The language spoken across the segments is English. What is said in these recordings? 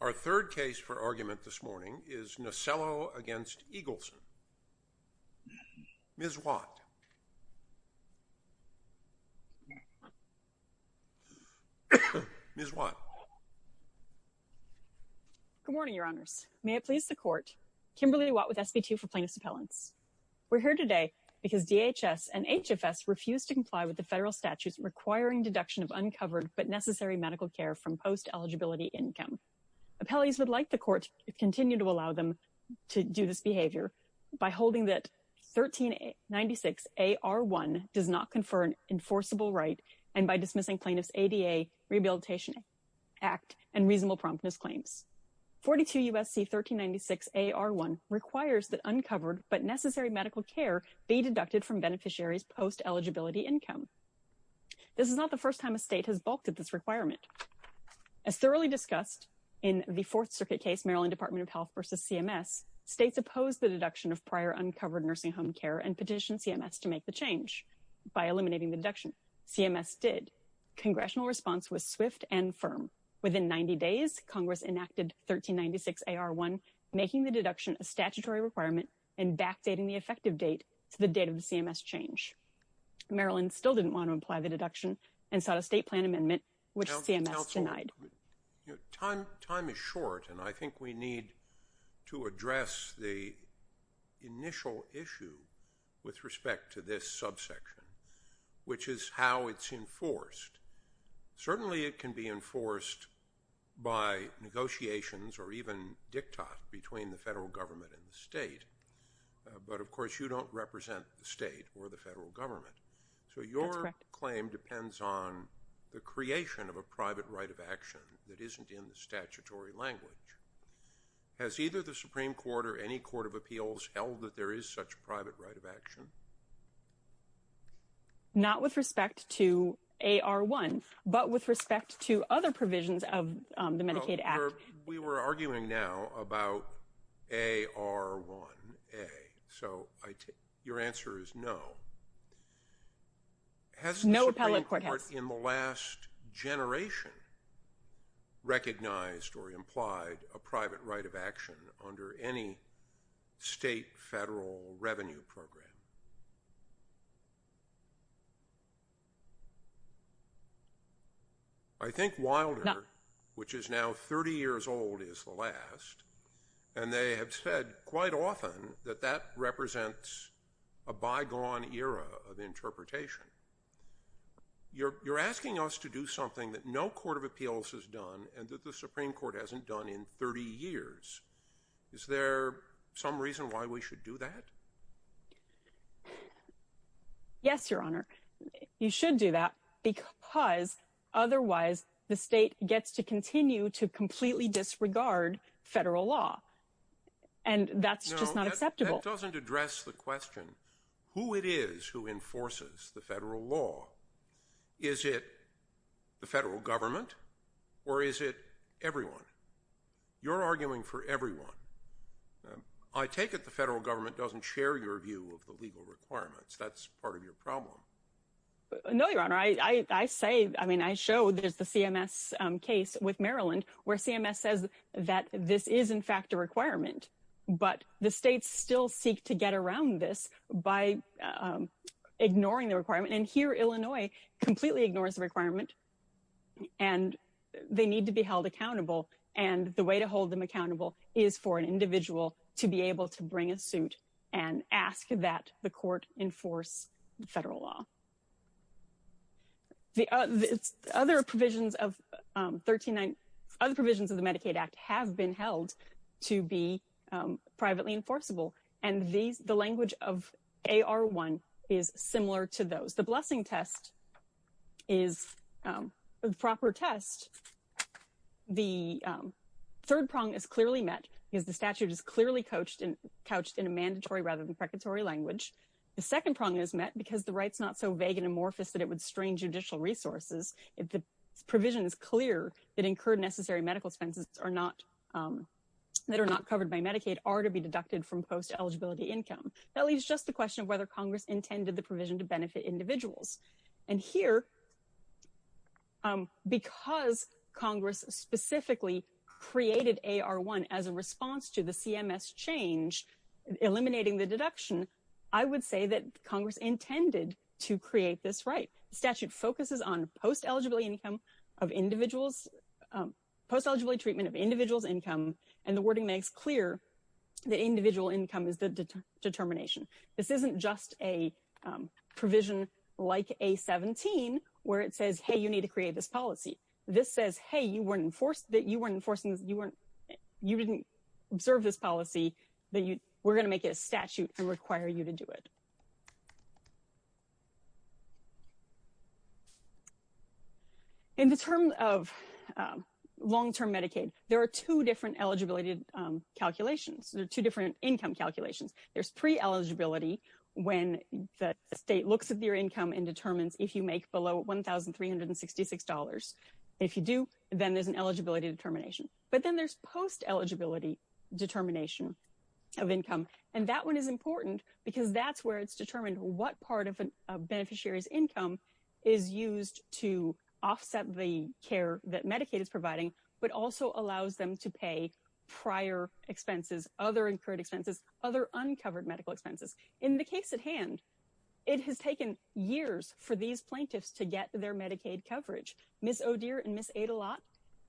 Our third case for argument this morning is Nasello v. Eagleson. Ms. Watt. Ms. Watt. Good morning, Your Honors. May it please the Court. Kimberly Watt with SB2 for Plaintiffs' Appellants. We're here today because DHS and HFS refuse to comply with the federal statutes requiring deduction of uncovered but necessary medical care from post-eligibility income. Appellees would like the Court to continue to allow them to do this behavior by holding that 1396AR1 does not confer an enforceable right and by dismissing Plaintiffs' ADA Rehabilitation Act and reasonable promptness claims. 42 U.S.C. 1396AR1 requires that uncovered but necessary medical care be deducted from beneficiaries' post-eligibility income. This is not the first time a state has balked at this requirement. As thoroughly discussed in the Fourth Circuit case, Maryland Department of Health v. CMS, states opposed the deduction of prior uncovered nursing home care and petitioned CMS to make the change by eliminating the deduction. CMS did. Congressional response was swift and firm. Within 90 days, Congress enacted 1396AR1, making the deduction a statutory requirement and backdating the effective date to the date of the CMS change. Maryland still didn't want to imply the deduction and sought a state plan amendment, which CMS denied. Time is short, and I think we need to address the initial issue with respect to this subsection, which is how it's enforced. Certainly it can be enforced by negotiations or even diktat between the federal government and the state. But, of course, you don't represent the state or the federal government. So your claim depends on the creation of a private right of action that isn't in the statutory language. Has either the Supreme Court or any court of appeals held that there is such a private right of action? Not with respect to AR1, but with respect to other provisions of the Medicaid Act. We were arguing now about AR1A, so your answer is no. No appellate court has. Has the Supreme Court in the last generation recognized or implied a private right of action under any state federal revenue program? I think Wilder, which is now 30 years old, is the last, and they have said quite often that that represents a bygone era of interpretation. You're asking us to do something that no court of appeals has done and that the Supreme Court hasn't done in 30 years. Is there some reason why we should do that? Yes, Your Honor. You should do that because otherwise the state gets to continue to completely disregard federal law. And that's just not acceptable. That doesn't address the question who it is who enforces the federal law. Is it the federal government or is it everyone? You're arguing for everyone. I take it the federal government doesn't share your view of the legal requirements. That's part of your problem. No, Your Honor. I say, I mean, I show there's the CMS case with Maryland where CMS says that this is, in fact, a requirement. But the states still seek to get around this by ignoring the requirement. And here, Illinois completely ignores the requirement. And they need to be held accountable. And the way to hold them accountable is for an individual to be able to bring a suit and ask that the court enforce federal law. Other provisions of the Medicaid Act have been held to be privately enforceable. And the language of AR1 is similar to those. The blessing test is a proper test. The third prong is clearly met because the statute is clearly couched in a mandatory rather than precatory language. The second prong is met because the right's not so vague and amorphous that it would strain judicial resources. The provision is clear that incurred necessary medical expenses that are not covered by Medicaid are to be deducted from post-eligibility income. That leaves just the question of whether Congress intended the provision to benefit individuals. And here, because Congress specifically created AR1 as a response to the CMS change, eliminating the deduction, I would say that Congress intended to create this right. The statute focuses on post-eligibility income of individuals, post-eligibility treatment of individuals' income. And the wording makes clear that individual income is the determination. This isn't just a provision like A17 where it says, hey, you need to create this policy. This says, hey, you weren't enforced, that you weren't enforcing this, you weren't, you didn't observe this policy, that you, we're going to make it a statute and require you to do it. In the term of long-term Medicaid, there are two different eligibility calculations. There are two different income calculations. There's pre-eligibility when the state looks at your income and determines if you make below $1,366. If you do, then there's an eligibility determination. But then there's post-eligibility determination of income. And that one is important because that's where it's determined what part of a beneficiary's income is used to offset the care that Medicaid is providing, but also allows them to pay prior expenses, other incurred expenses, other uncovered medical expenses. In the case at hand, it has taken years for these plaintiffs to get their Medicaid coverage. Ms. O'Deer and Ms. Adelot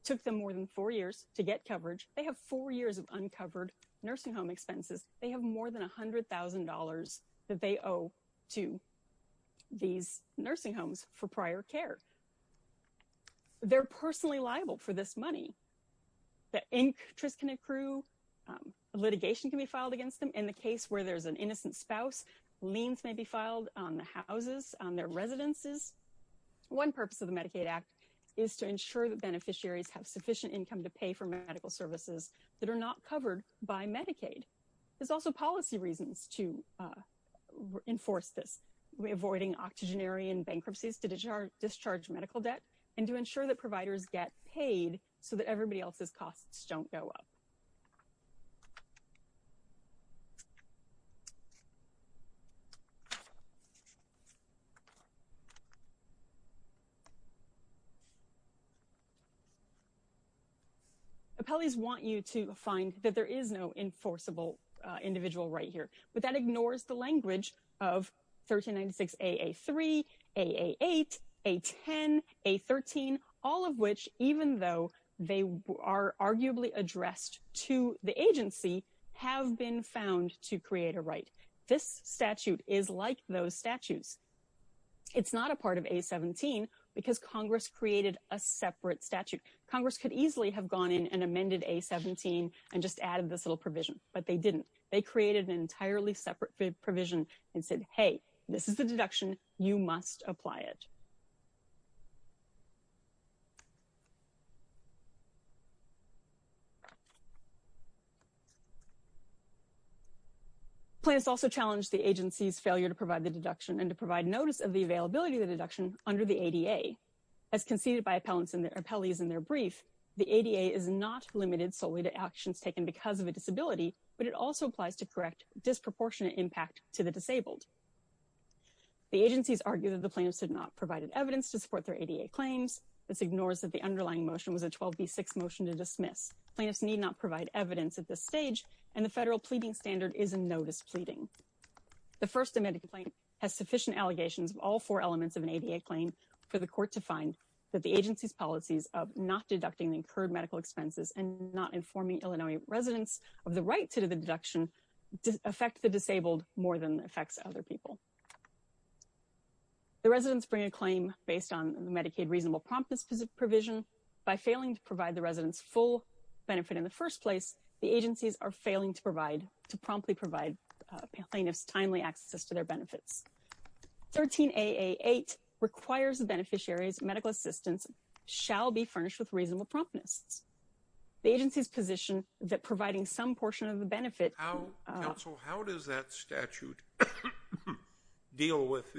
took them more than four years to get coverage. They have four years of uncovered nursing home expenses. They have more than $100,000 that they owe to these nursing homes for prior care. They're personally liable for this money. The interest can accrue. Litigation can be filed against them. In the case where there's an innocent spouse, liens may be filed on the houses, on their residences. One purpose of the Medicaid Act is to ensure that beneficiaries have sufficient income to pay for medical services that are not covered by Medicaid. There's also policy reasons to enforce this, avoiding octogenarian bankruptcies to discharge medical debt and to ensure that providers get paid so that everybody else's costs don't go up. Appellees want you to find that there is no enforceable individual right here, but that ignores the language of 1396AA3, AA8, A10, A13, all of which, even though they are arguably addressed to the agency, have been found to create a right. This statute is like those statutes. It's not a part of A17 because Congress created a separate statute. Congress could easily have gone in and amended A17 and just added this little provision, but they didn't. They created an entirely separate provision and said, hey, this is the deduction. You must apply it. Plans also challenge the agency's failure to provide the deduction and to provide notice of the availability of the deduction under the ADA. As conceded by appellees in their brief, the ADA is not limited solely to actions taken because of a disability, but it also applies to correct disproportionate impact to the disabled. The agencies argue that the plaintiffs did not provide evidence to support their ADA claims. This ignores that the underlying motion was a 12B6 motion to dismiss. Plaintiffs need not provide evidence at this stage, and the federal pleading standard is a notice pleading. The first amended complaint has sufficient allegations of all four elements of an ADA claim for the court to find that the agency's policies of not deducting incurred medical expenses and not informing Illinois residents of the right to the deduction affect the disabled more than it affects other people. The residents bring a claim based on the Medicaid reasonable promptness provision. By failing to provide the residents full benefit in the first place, the agencies are failing to promptly provide plaintiffs timely access to their benefits. 13AA8 requires the beneficiaries medical assistance shall be furnished with reasonable promptness. The agency's position that providing some portion of the benefit... Counsel, how does that statute deal with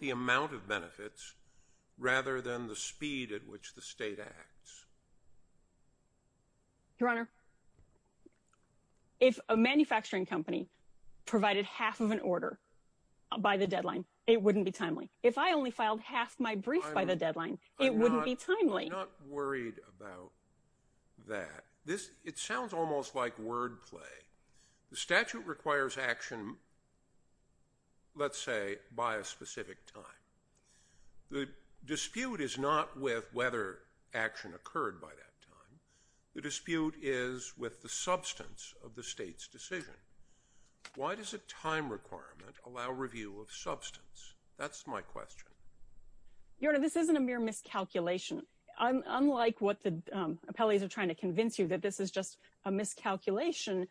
the amount of benefits rather than the speed at which the state acts? Your Honor, if a manufacturing company provided half of an order by the deadline, it wouldn't be timely. If I only filed half my brief by the deadline, it wouldn't be timely. I'm not worried about that. It sounds almost like wordplay. The statute requires action, let's say, by a specific time. The dispute is not with whether action occurred by that time. The dispute is with the substance of the state's decision. Why does a time requirement allow review of substance? That's my question. Your Honor, this isn't a mere miscalculation. Unlike what the appellees are trying to convince you that this is just a miscalculation,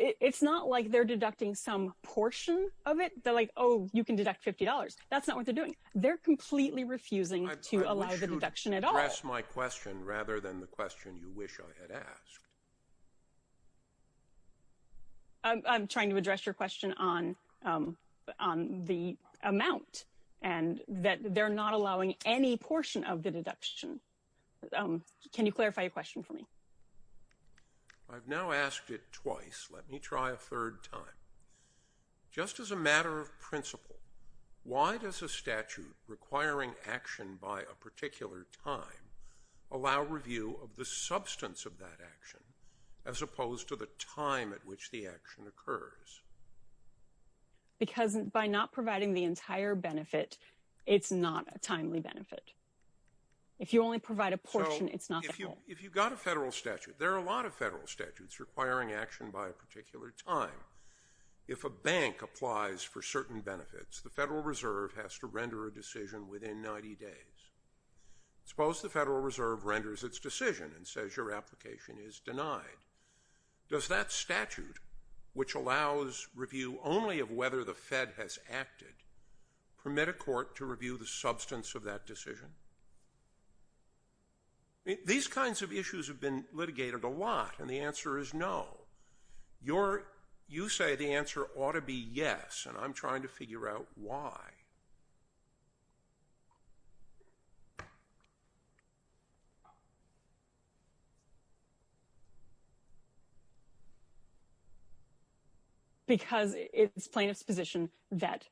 it's not like they're deducting some portion of it. They're like, oh, you can deduct $50. That's not what they're doing. They're completely refusing to allow the deduction at all. I'd like you to address my question rather than the question you wish I had asked. I'm trying to address your question on the amount and that they're not allowing any portion of the deduction. Can you clarify your question for me? I've now asked it twice. Let me try a third time. Just as a matter of principle, why does a statute requiring action by a particular time allow review of the substance of that action as opposed to the time at which the action occurs? Because by not providing the entire benefit, it's not a timely benefit. If you only provide a portion, it's not the whole. If you've got a federal statute, there are a lot of federal statutes requiring action by a particular time. If a bank applies for certain benefits, the Federal Reserve has to render a decision within 90 days. Suppose the Federal Reserve renders its decision and says your application is denied. Does that statute, which allows review only of whether the Fed has acted, permit a court to review the substance of that decision? These kinds of issues have been litigated a lot, and the answer is no. You say the answer ought to be yes, and I'm trying to figure out why. Because it's plaintiff's position that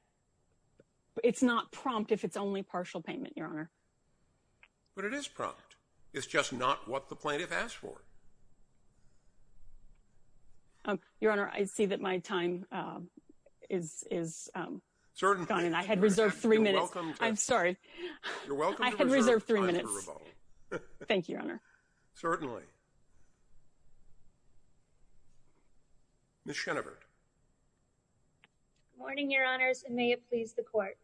it's not prompt if it's only partial payment, Your Honor. But it is prompt. It's just not what the plaintiff asked for. Your Honor, I see that my time is gone, and I had reserved three minutes. I'm sorry. You're welcome to reserve time for rebuttal. I had reserved three minutes. Thank you, Your Honor. Certainly. Ms. Schenevert. Good morning, Your Honors, and may it please the Court.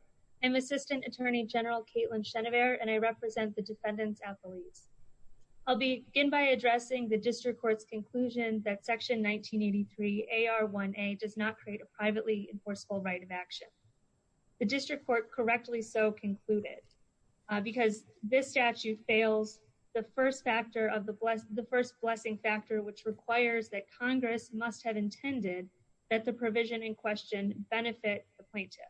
I'm Assistant Attorney General Caitlin Schenevert, and I represent the defendants' athletes. I'll begin by addressing the district court's conclusion that Section 1983 AR1A does not create a privately enforceable right of action. The district court correctly so concluded because this statute fails the first blessing factor, which requires that Congress must have intended that the provision in question benefit the plaintiff.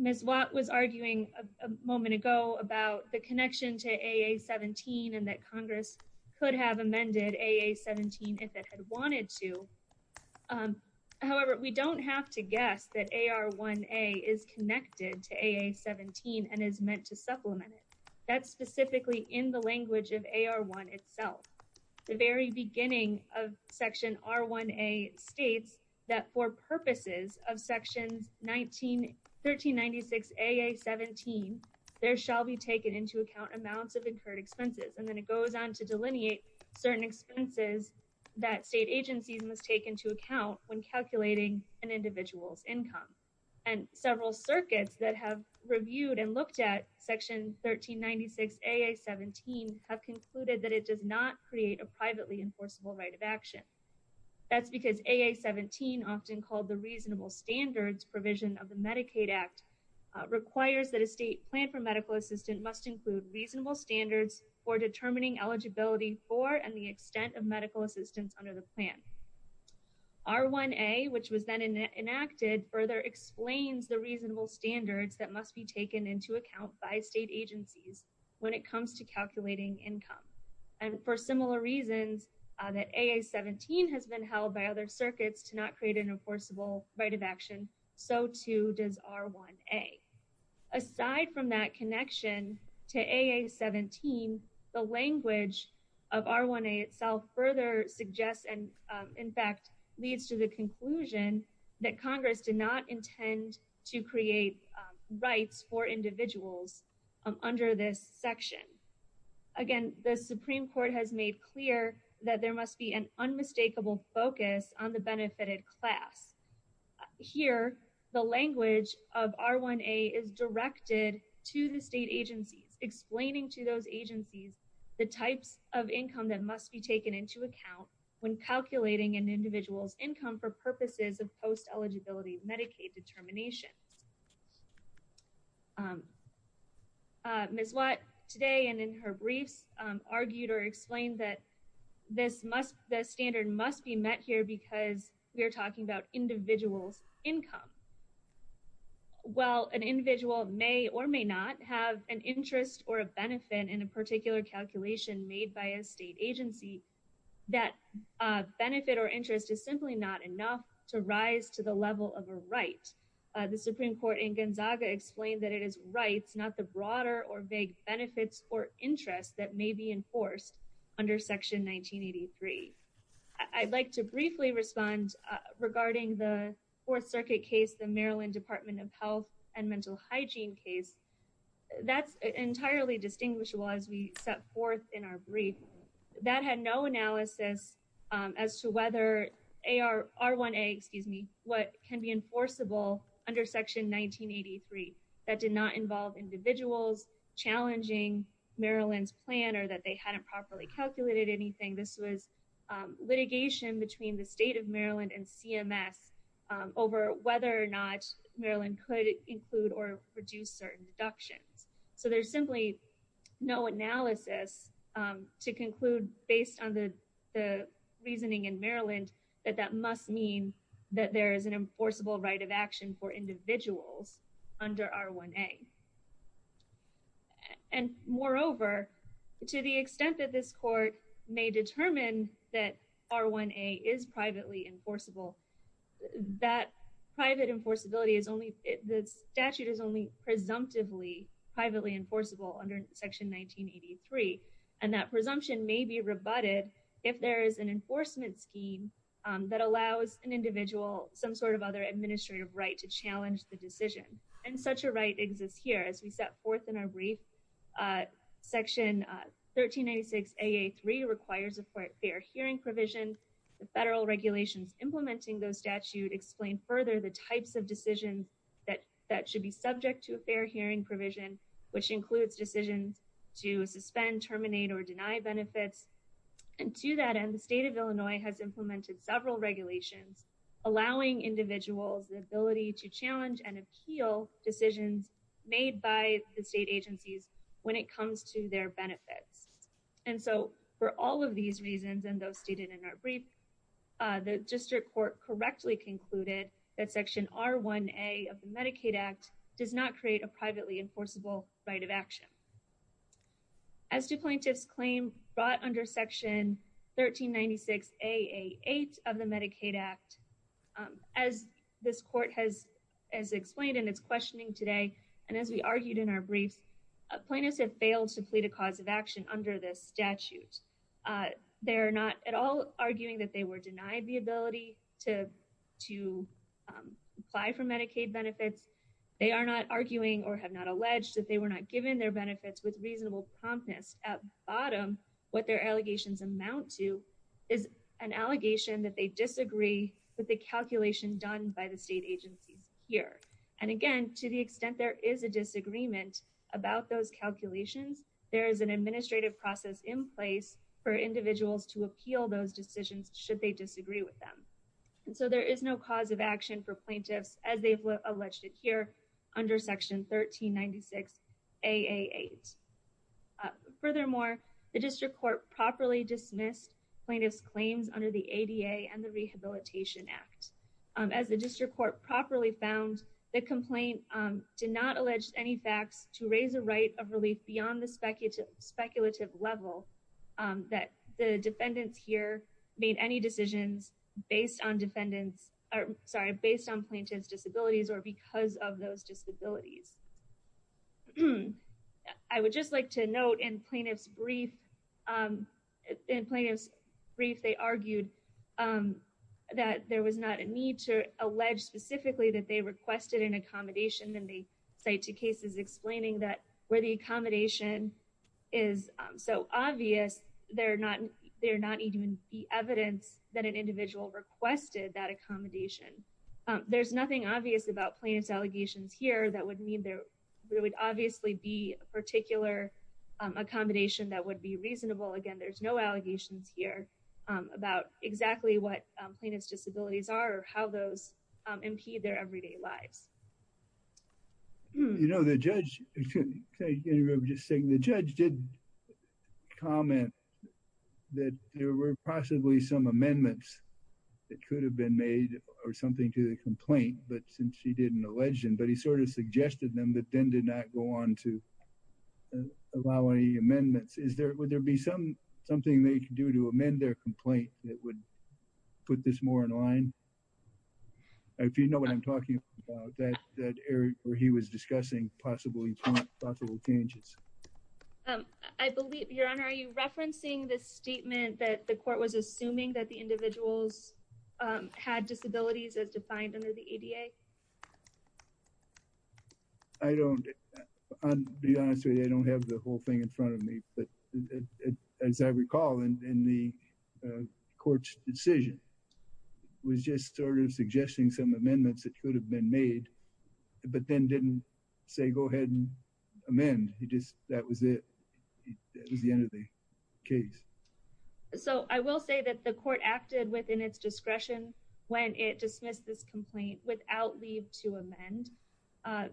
Ms. Watt was arguing a moment ago about the connection to AA17 and that Congress could have amended AA17 if it had wanted to. However, we don't have to guess that AR1A is connected to AA17 and is meant to supplement it. That's specifically in the language of AR1 itself. The very beginning of Section R1A states that for purposes of Section 1396 AA17, there shall be taken into account amounts of incurred expenses, and then it goes on to delineate certain expenses that state agencies must take into account when calculating an individual's income. And several circuits that have reviewed and looked at Section 1396 AA17 have concluded that it does not create a privately enforceable right of action. That's because AA17, often called the reasonable standards provision of the Medicaid Act, requires that a state plan for medical assistance must include reasonable standards for determining eligibility for and the extent of medical assistance under the plan. R1A, which was then enacted, further explains the reasonable standards that must be taken into account by state agencies when it comes to calculating income. And for similar reasons that AA17 has been held by other circuits to not create an enforceable right of action, so too does R1A. Aside from that connection to AA17, the language of R1A itself further suggests and in fact leads to the conclusion that Congress did not intend to create rights for individuals under this section. Again, the Supreme Court has made clear that there must be an unmistakable focus on the benefited class. Here, the language of R1A is directed to the state agencies, explaining to those agencies the types of income that must be taken into account when calculating an individual's income for purposes of post-eligibility Medicaid determination. Ms. Watt today and in her briefs argued or explained that the standard must be met here because we are talking about individuals' income. While an individual may or may not have an interest or a benefit in a particular calculation made by a state agency, that benefit or interest is simply not enough to rise to the level of a right. The Supreme Court in Gonzaga explained that it is rights, not the broader or vague benefits or interests that may be enforced under Section 1983. I'd like to briefly respond regarding the Fourth Circuit case, the Maryland Department of Health and Mental Hygiene case. That's entirely distinguishable as we set forth in our brief. That had no analysis as to whether R1A, excuse me, what can be enforceable under Section 1983. That did not involve individuals challenging Maryland's plan or that they hadn't properly calculated anything. This was litigation between the state of Maryland and CMS over whether or not Maryland could include or reduce certain deductions. So there's simply no analysis to conclude based on the reasoning in Maryland that that must mean that there is an enforceable right of action for individuals under R1A. And moreover, to the extent that this court may determine that R1A is privately enforceable, that private enforceability is only, the statute is only presumptively privately enforceable under Section 1983. And that presumption may be rebutted if there is an enforcement scheme that allows an individual some sort of other administrative right to challenge the decision. And such a right exists here. As we set forth in our brief, Section 1386AA3 requires a fair hearing provision. The federal regulations implementing those statute explain further the types of decisions that should be subject to a fair hearing provision, which includes decisions to suspend, terminate, or deny benefits. And to that end, the state of Illinois has implemented several regulations allowing individuals the ability to challenge and appeal decisions made by the state agencies when it comes to their benefits. And so for all of these reasons, and those stated in our brief, the district court correctly concluded that Section R1A of the Medicaid Act does not create a privately enforceable right of action. As to plaintiff's claim brought under Section 1396AA8 of the Medicaid Act, as this court has explained in its questioning today and as we argued in our brief, plaintiffs have failed to plead a cause of action under this statute. They are not at all arguing that they were denied the ability to apply for Medicaid benefits. They are not arguing or have not alleged that they were not given their benefits with reasonable promptness. At bottom, what their allegations amount to is an allegation that they disagree with the calculation done by the state agencies here. And again, to the extent there is a disagreement about those calculations, there is an administrative process in place for individuals to appeal those decisions should they disagree with them. And so there is no cause of action for plaintiffs as they've alleged it here under Section 1396AA8. Furthermore, the district court properly dismissed plaintiff's claims under the ADA and the Rehabilitation Act. As the district court properly found, the complaint did not allege any facts to raise a right of relief beyond the speculative level that the defendants here made any decisions based on plaintiff's disabilities or because of those disabilities. I would just like to note in plaintiff's brief, in plaintiff's brief, they argued that there was not a need to allege specifically that they requested an accommodation and they cite two cases explaining that where the accommodation is so obvious, they're not even the evidence that an individual requested that accommodation. There's nothing obvious about plaintiff's allegations here that would mean there would obviously be a particular accommodation that would be reasonable. Again, there's no allegations here about exactly what plaintiff's disabilities are or how those impede their everyday lives. You know, the judge, can I interrupt just saying, the judge did comment that there were possibly some amendments that could have been made or something to the complaint, but since she didn't allege them, but he sort of suggested them, but then did not go on to allow any amendments. Is there, would there be something they can do to amend their complaint that would put this more in line? If you know what I'm talking about, that area where he was discussing possibly possible changes. I believe, Your Honor, are you referencing this statement that the court was assuming that the individuals had disabilities as defined under the ADA? I don't, to be honest with you, I don't have the whole thing in front of me, but as I recall in the court's decision, was just sort of suggesting some amendments that could have been made, but then didn't say, go ahead and amend. He just, that was it. That was the end of the case. So I will say that the court acted within its discretion when it dismissed this complaint without leave to amend.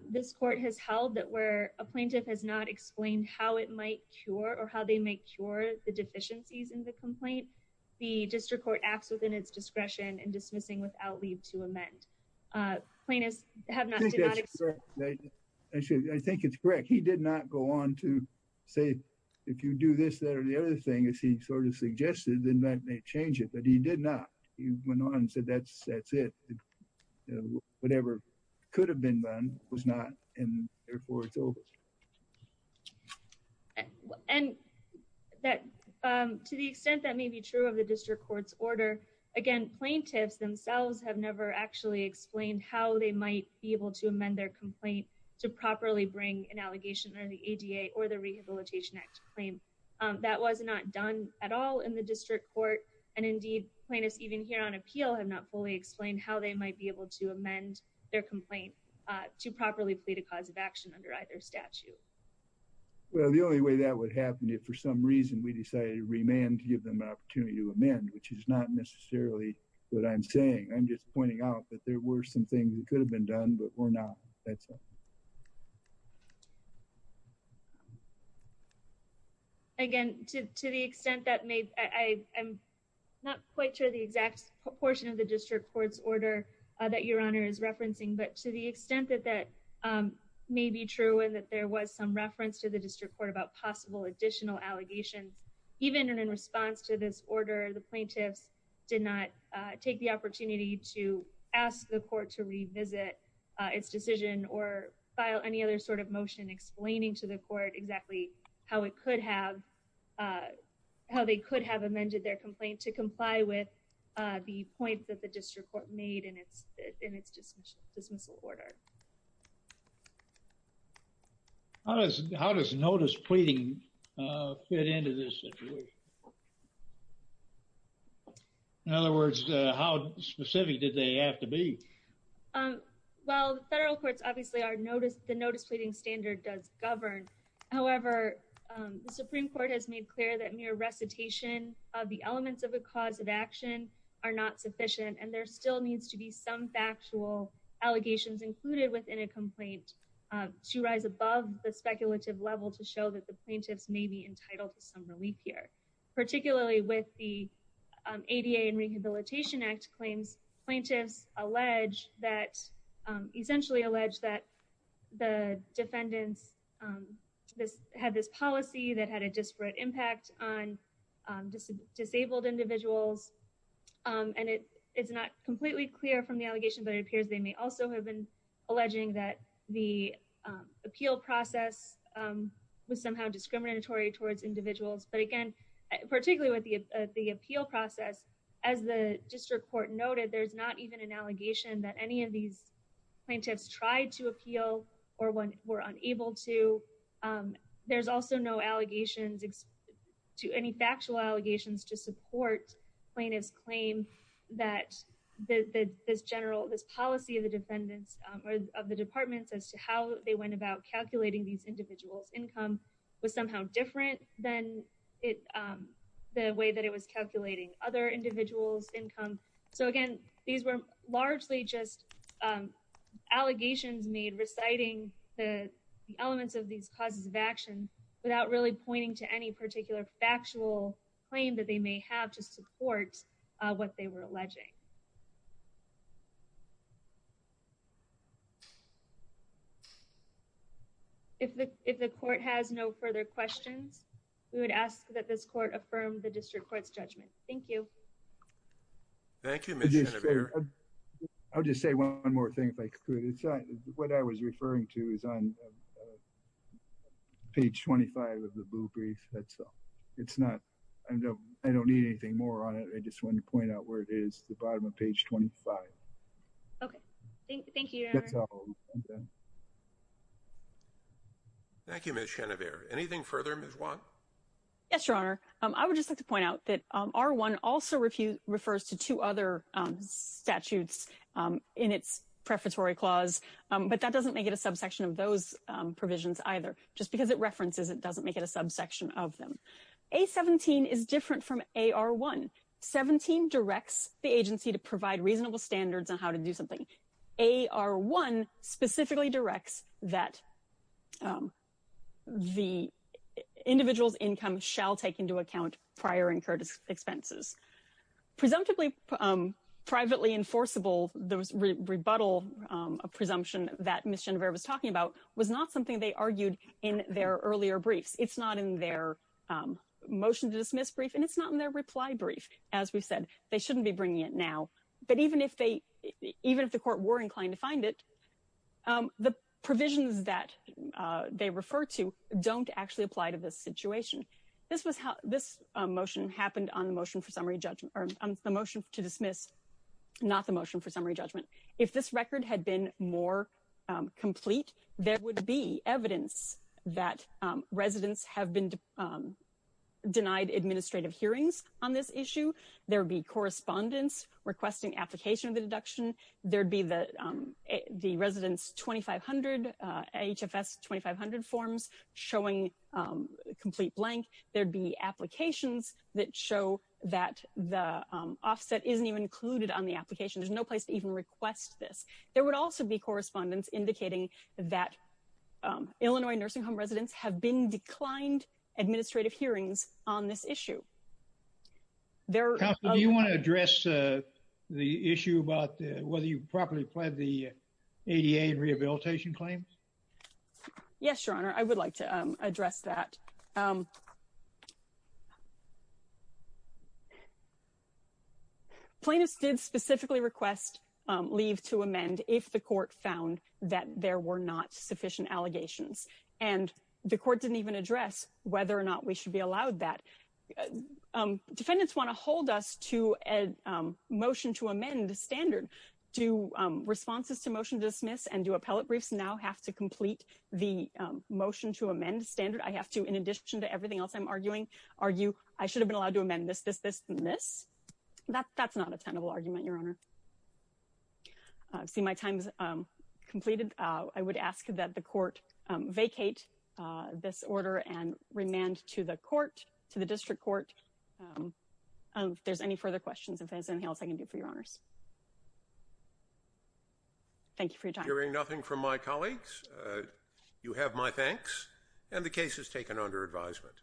This court has held that where a plaintiff has not explained how it might cure or how they may cure the deficiencies in the complaint, the district court acts within its discretion in dismissing without leave to amend. Plaintiffs have not. I think it's correct. He did not go on to say, if you do this, that or the other thing, as he sort of suggested, then that may change it, but he did not. He went on and said, that's it. Whatever could have been done was not, and therefore it's over. And to the extent that may be true of the district court's order, again, plaintiffs themselves have never actually explained how they might be able to amend their complaint to properly bring an allegation under the ADA or the Rehabilitation Act claim. That was not done at all in the district court. And indeed plaintiffs even here on appeal have not fully explained how they might be able to amend their complaint to properly plead a cause of action under either statute. Well, the only way that would happen, if for some reason we decided to remand to give them an opportunity to amend, which is not necessarily what I'm saying. I'm just pointing out that there were some things that could have been done, but were not. That's all. Again, to the extent that may, I'm not quite sure the exact proportion of the district court's order that Your Honor is referencing, but to the extent that that may be true and that there was some reference to the district court about possible additional allegations, even in response to this order, the plaintiffs did not take the opportunity to ask the court to revisit its decision or file any other sort of motion explaining to the court exactly how it could have, how they could have amended their complaint to comply with the point that the district court made in its dismissal order. How does notice pleading fit into this situation? In other words, how specific did they have to be? Well, the federal courts, obviously the notice pleading standard does govern however, the Supreme Court has made clear that mere recitation of the elements of a cause of action are not sufficient. And there still needs to be some factual allegations included within a complaint to rise above the speculative level to show that the plaintiffs may be entitled to some relief here, particularly with the ADA and Rehabilitation Act claims, plaintiffs allege that, essentially allege that the defendants, had this policy that had a disparate impact on disabled individuals. And it's not completely clear from the allegation, but it appears they may also have been alleging that the appeal process was somehow discriminatory towards individuals. But again, particularly with the appeal process, as the district court noted, there's not even an allegation that any of these plaintiffs tried to appeal or when were unable to. There's also no allegations to any factual allegations to support plaintiff's claim that this general, this policy of the defendants or of the departments as to how they went about calculating these individuals income was somehow different than the way that it was calculating other individuals income. So again, these were largely just allegations made reciting the elements of these causes of action without really pointing to any particular factual claim that they may have to support what they were alleging. If the court has no further questions, we would ask that this court affirm the district court's judgment. Thank you. Thank you. I'll just say one more thing. What I was referring to is on page 25 of the blue brief. It's not, I don't need anything more on it. I just wanted to point out where it is, the bottom of page 25. Okay. Thank you. Thank you, Ms. Schenever. Anything further, Ms. Wong? Yes, Your Honor. I would just like to point out that R1 also refers to two other statutes in its prefatory clause, but that doesn't make it a subsection of those provisions either. Just because it references, it doesn't make it a subsection of them. A17 is different from AR1. 17 directs the agency to provide reasonable standards on how to do something. AR1 specifically directs that the individual's income shall take into account prior incurred expenses. Presumptively privately enforceable, the rebuttal presumption that Ms. Schenever was talking about was not something they argued in their earlier briefs. It's not in their motion to dismiss brief, and it's not in their reply brief. As we've said, they shouldn't be bringing it now. But even if the court were inclined to find it, the provisions that they refer to don't actually apply to this situation. This motion happened on the motion to dismiss, not the motion for summary judgment. If this record had been more complete, there would be evidence that residents have been denied administrative hearings on this issue. There would be correspondence requesting application of the deduction. There would be the resident's HFS-2500 forms showing complete blank. There'd be applications that show that the offset isn't even included on the application. There's no place to even request this. There would also be correspondence indicating that Illinois nursing home residents have been declined administrative hearings on this issue. Counsel, do you want to address the issue about whether you've properly pled the ADA rehabilitation claims? Yes, Your Honor, I would like to address that. Plaintiffs did specifically request leave to amend if the court found that there were not sufficient allegations. And the court didn't even address whether or not we should be allowed that. Defendants want to hold us to a motion to amend the standard. Do responses to motion to dismiss and do appellate briefs now have to complete the motion to amend standard? I have to, in addition to everything else I'm arguing, argue I should have been allowed to amend this, this, this, and this. That's not a tenable argument, Your Honor. I see my time's completed. I would ask that the court vacate this order and remand to the court, to the district court. If there's any further questions, if there's anything else I can do for Your Honors. Thank you for your time. Hearing nothing from my colleagues. You have my thanks. And the case is taken under advisement.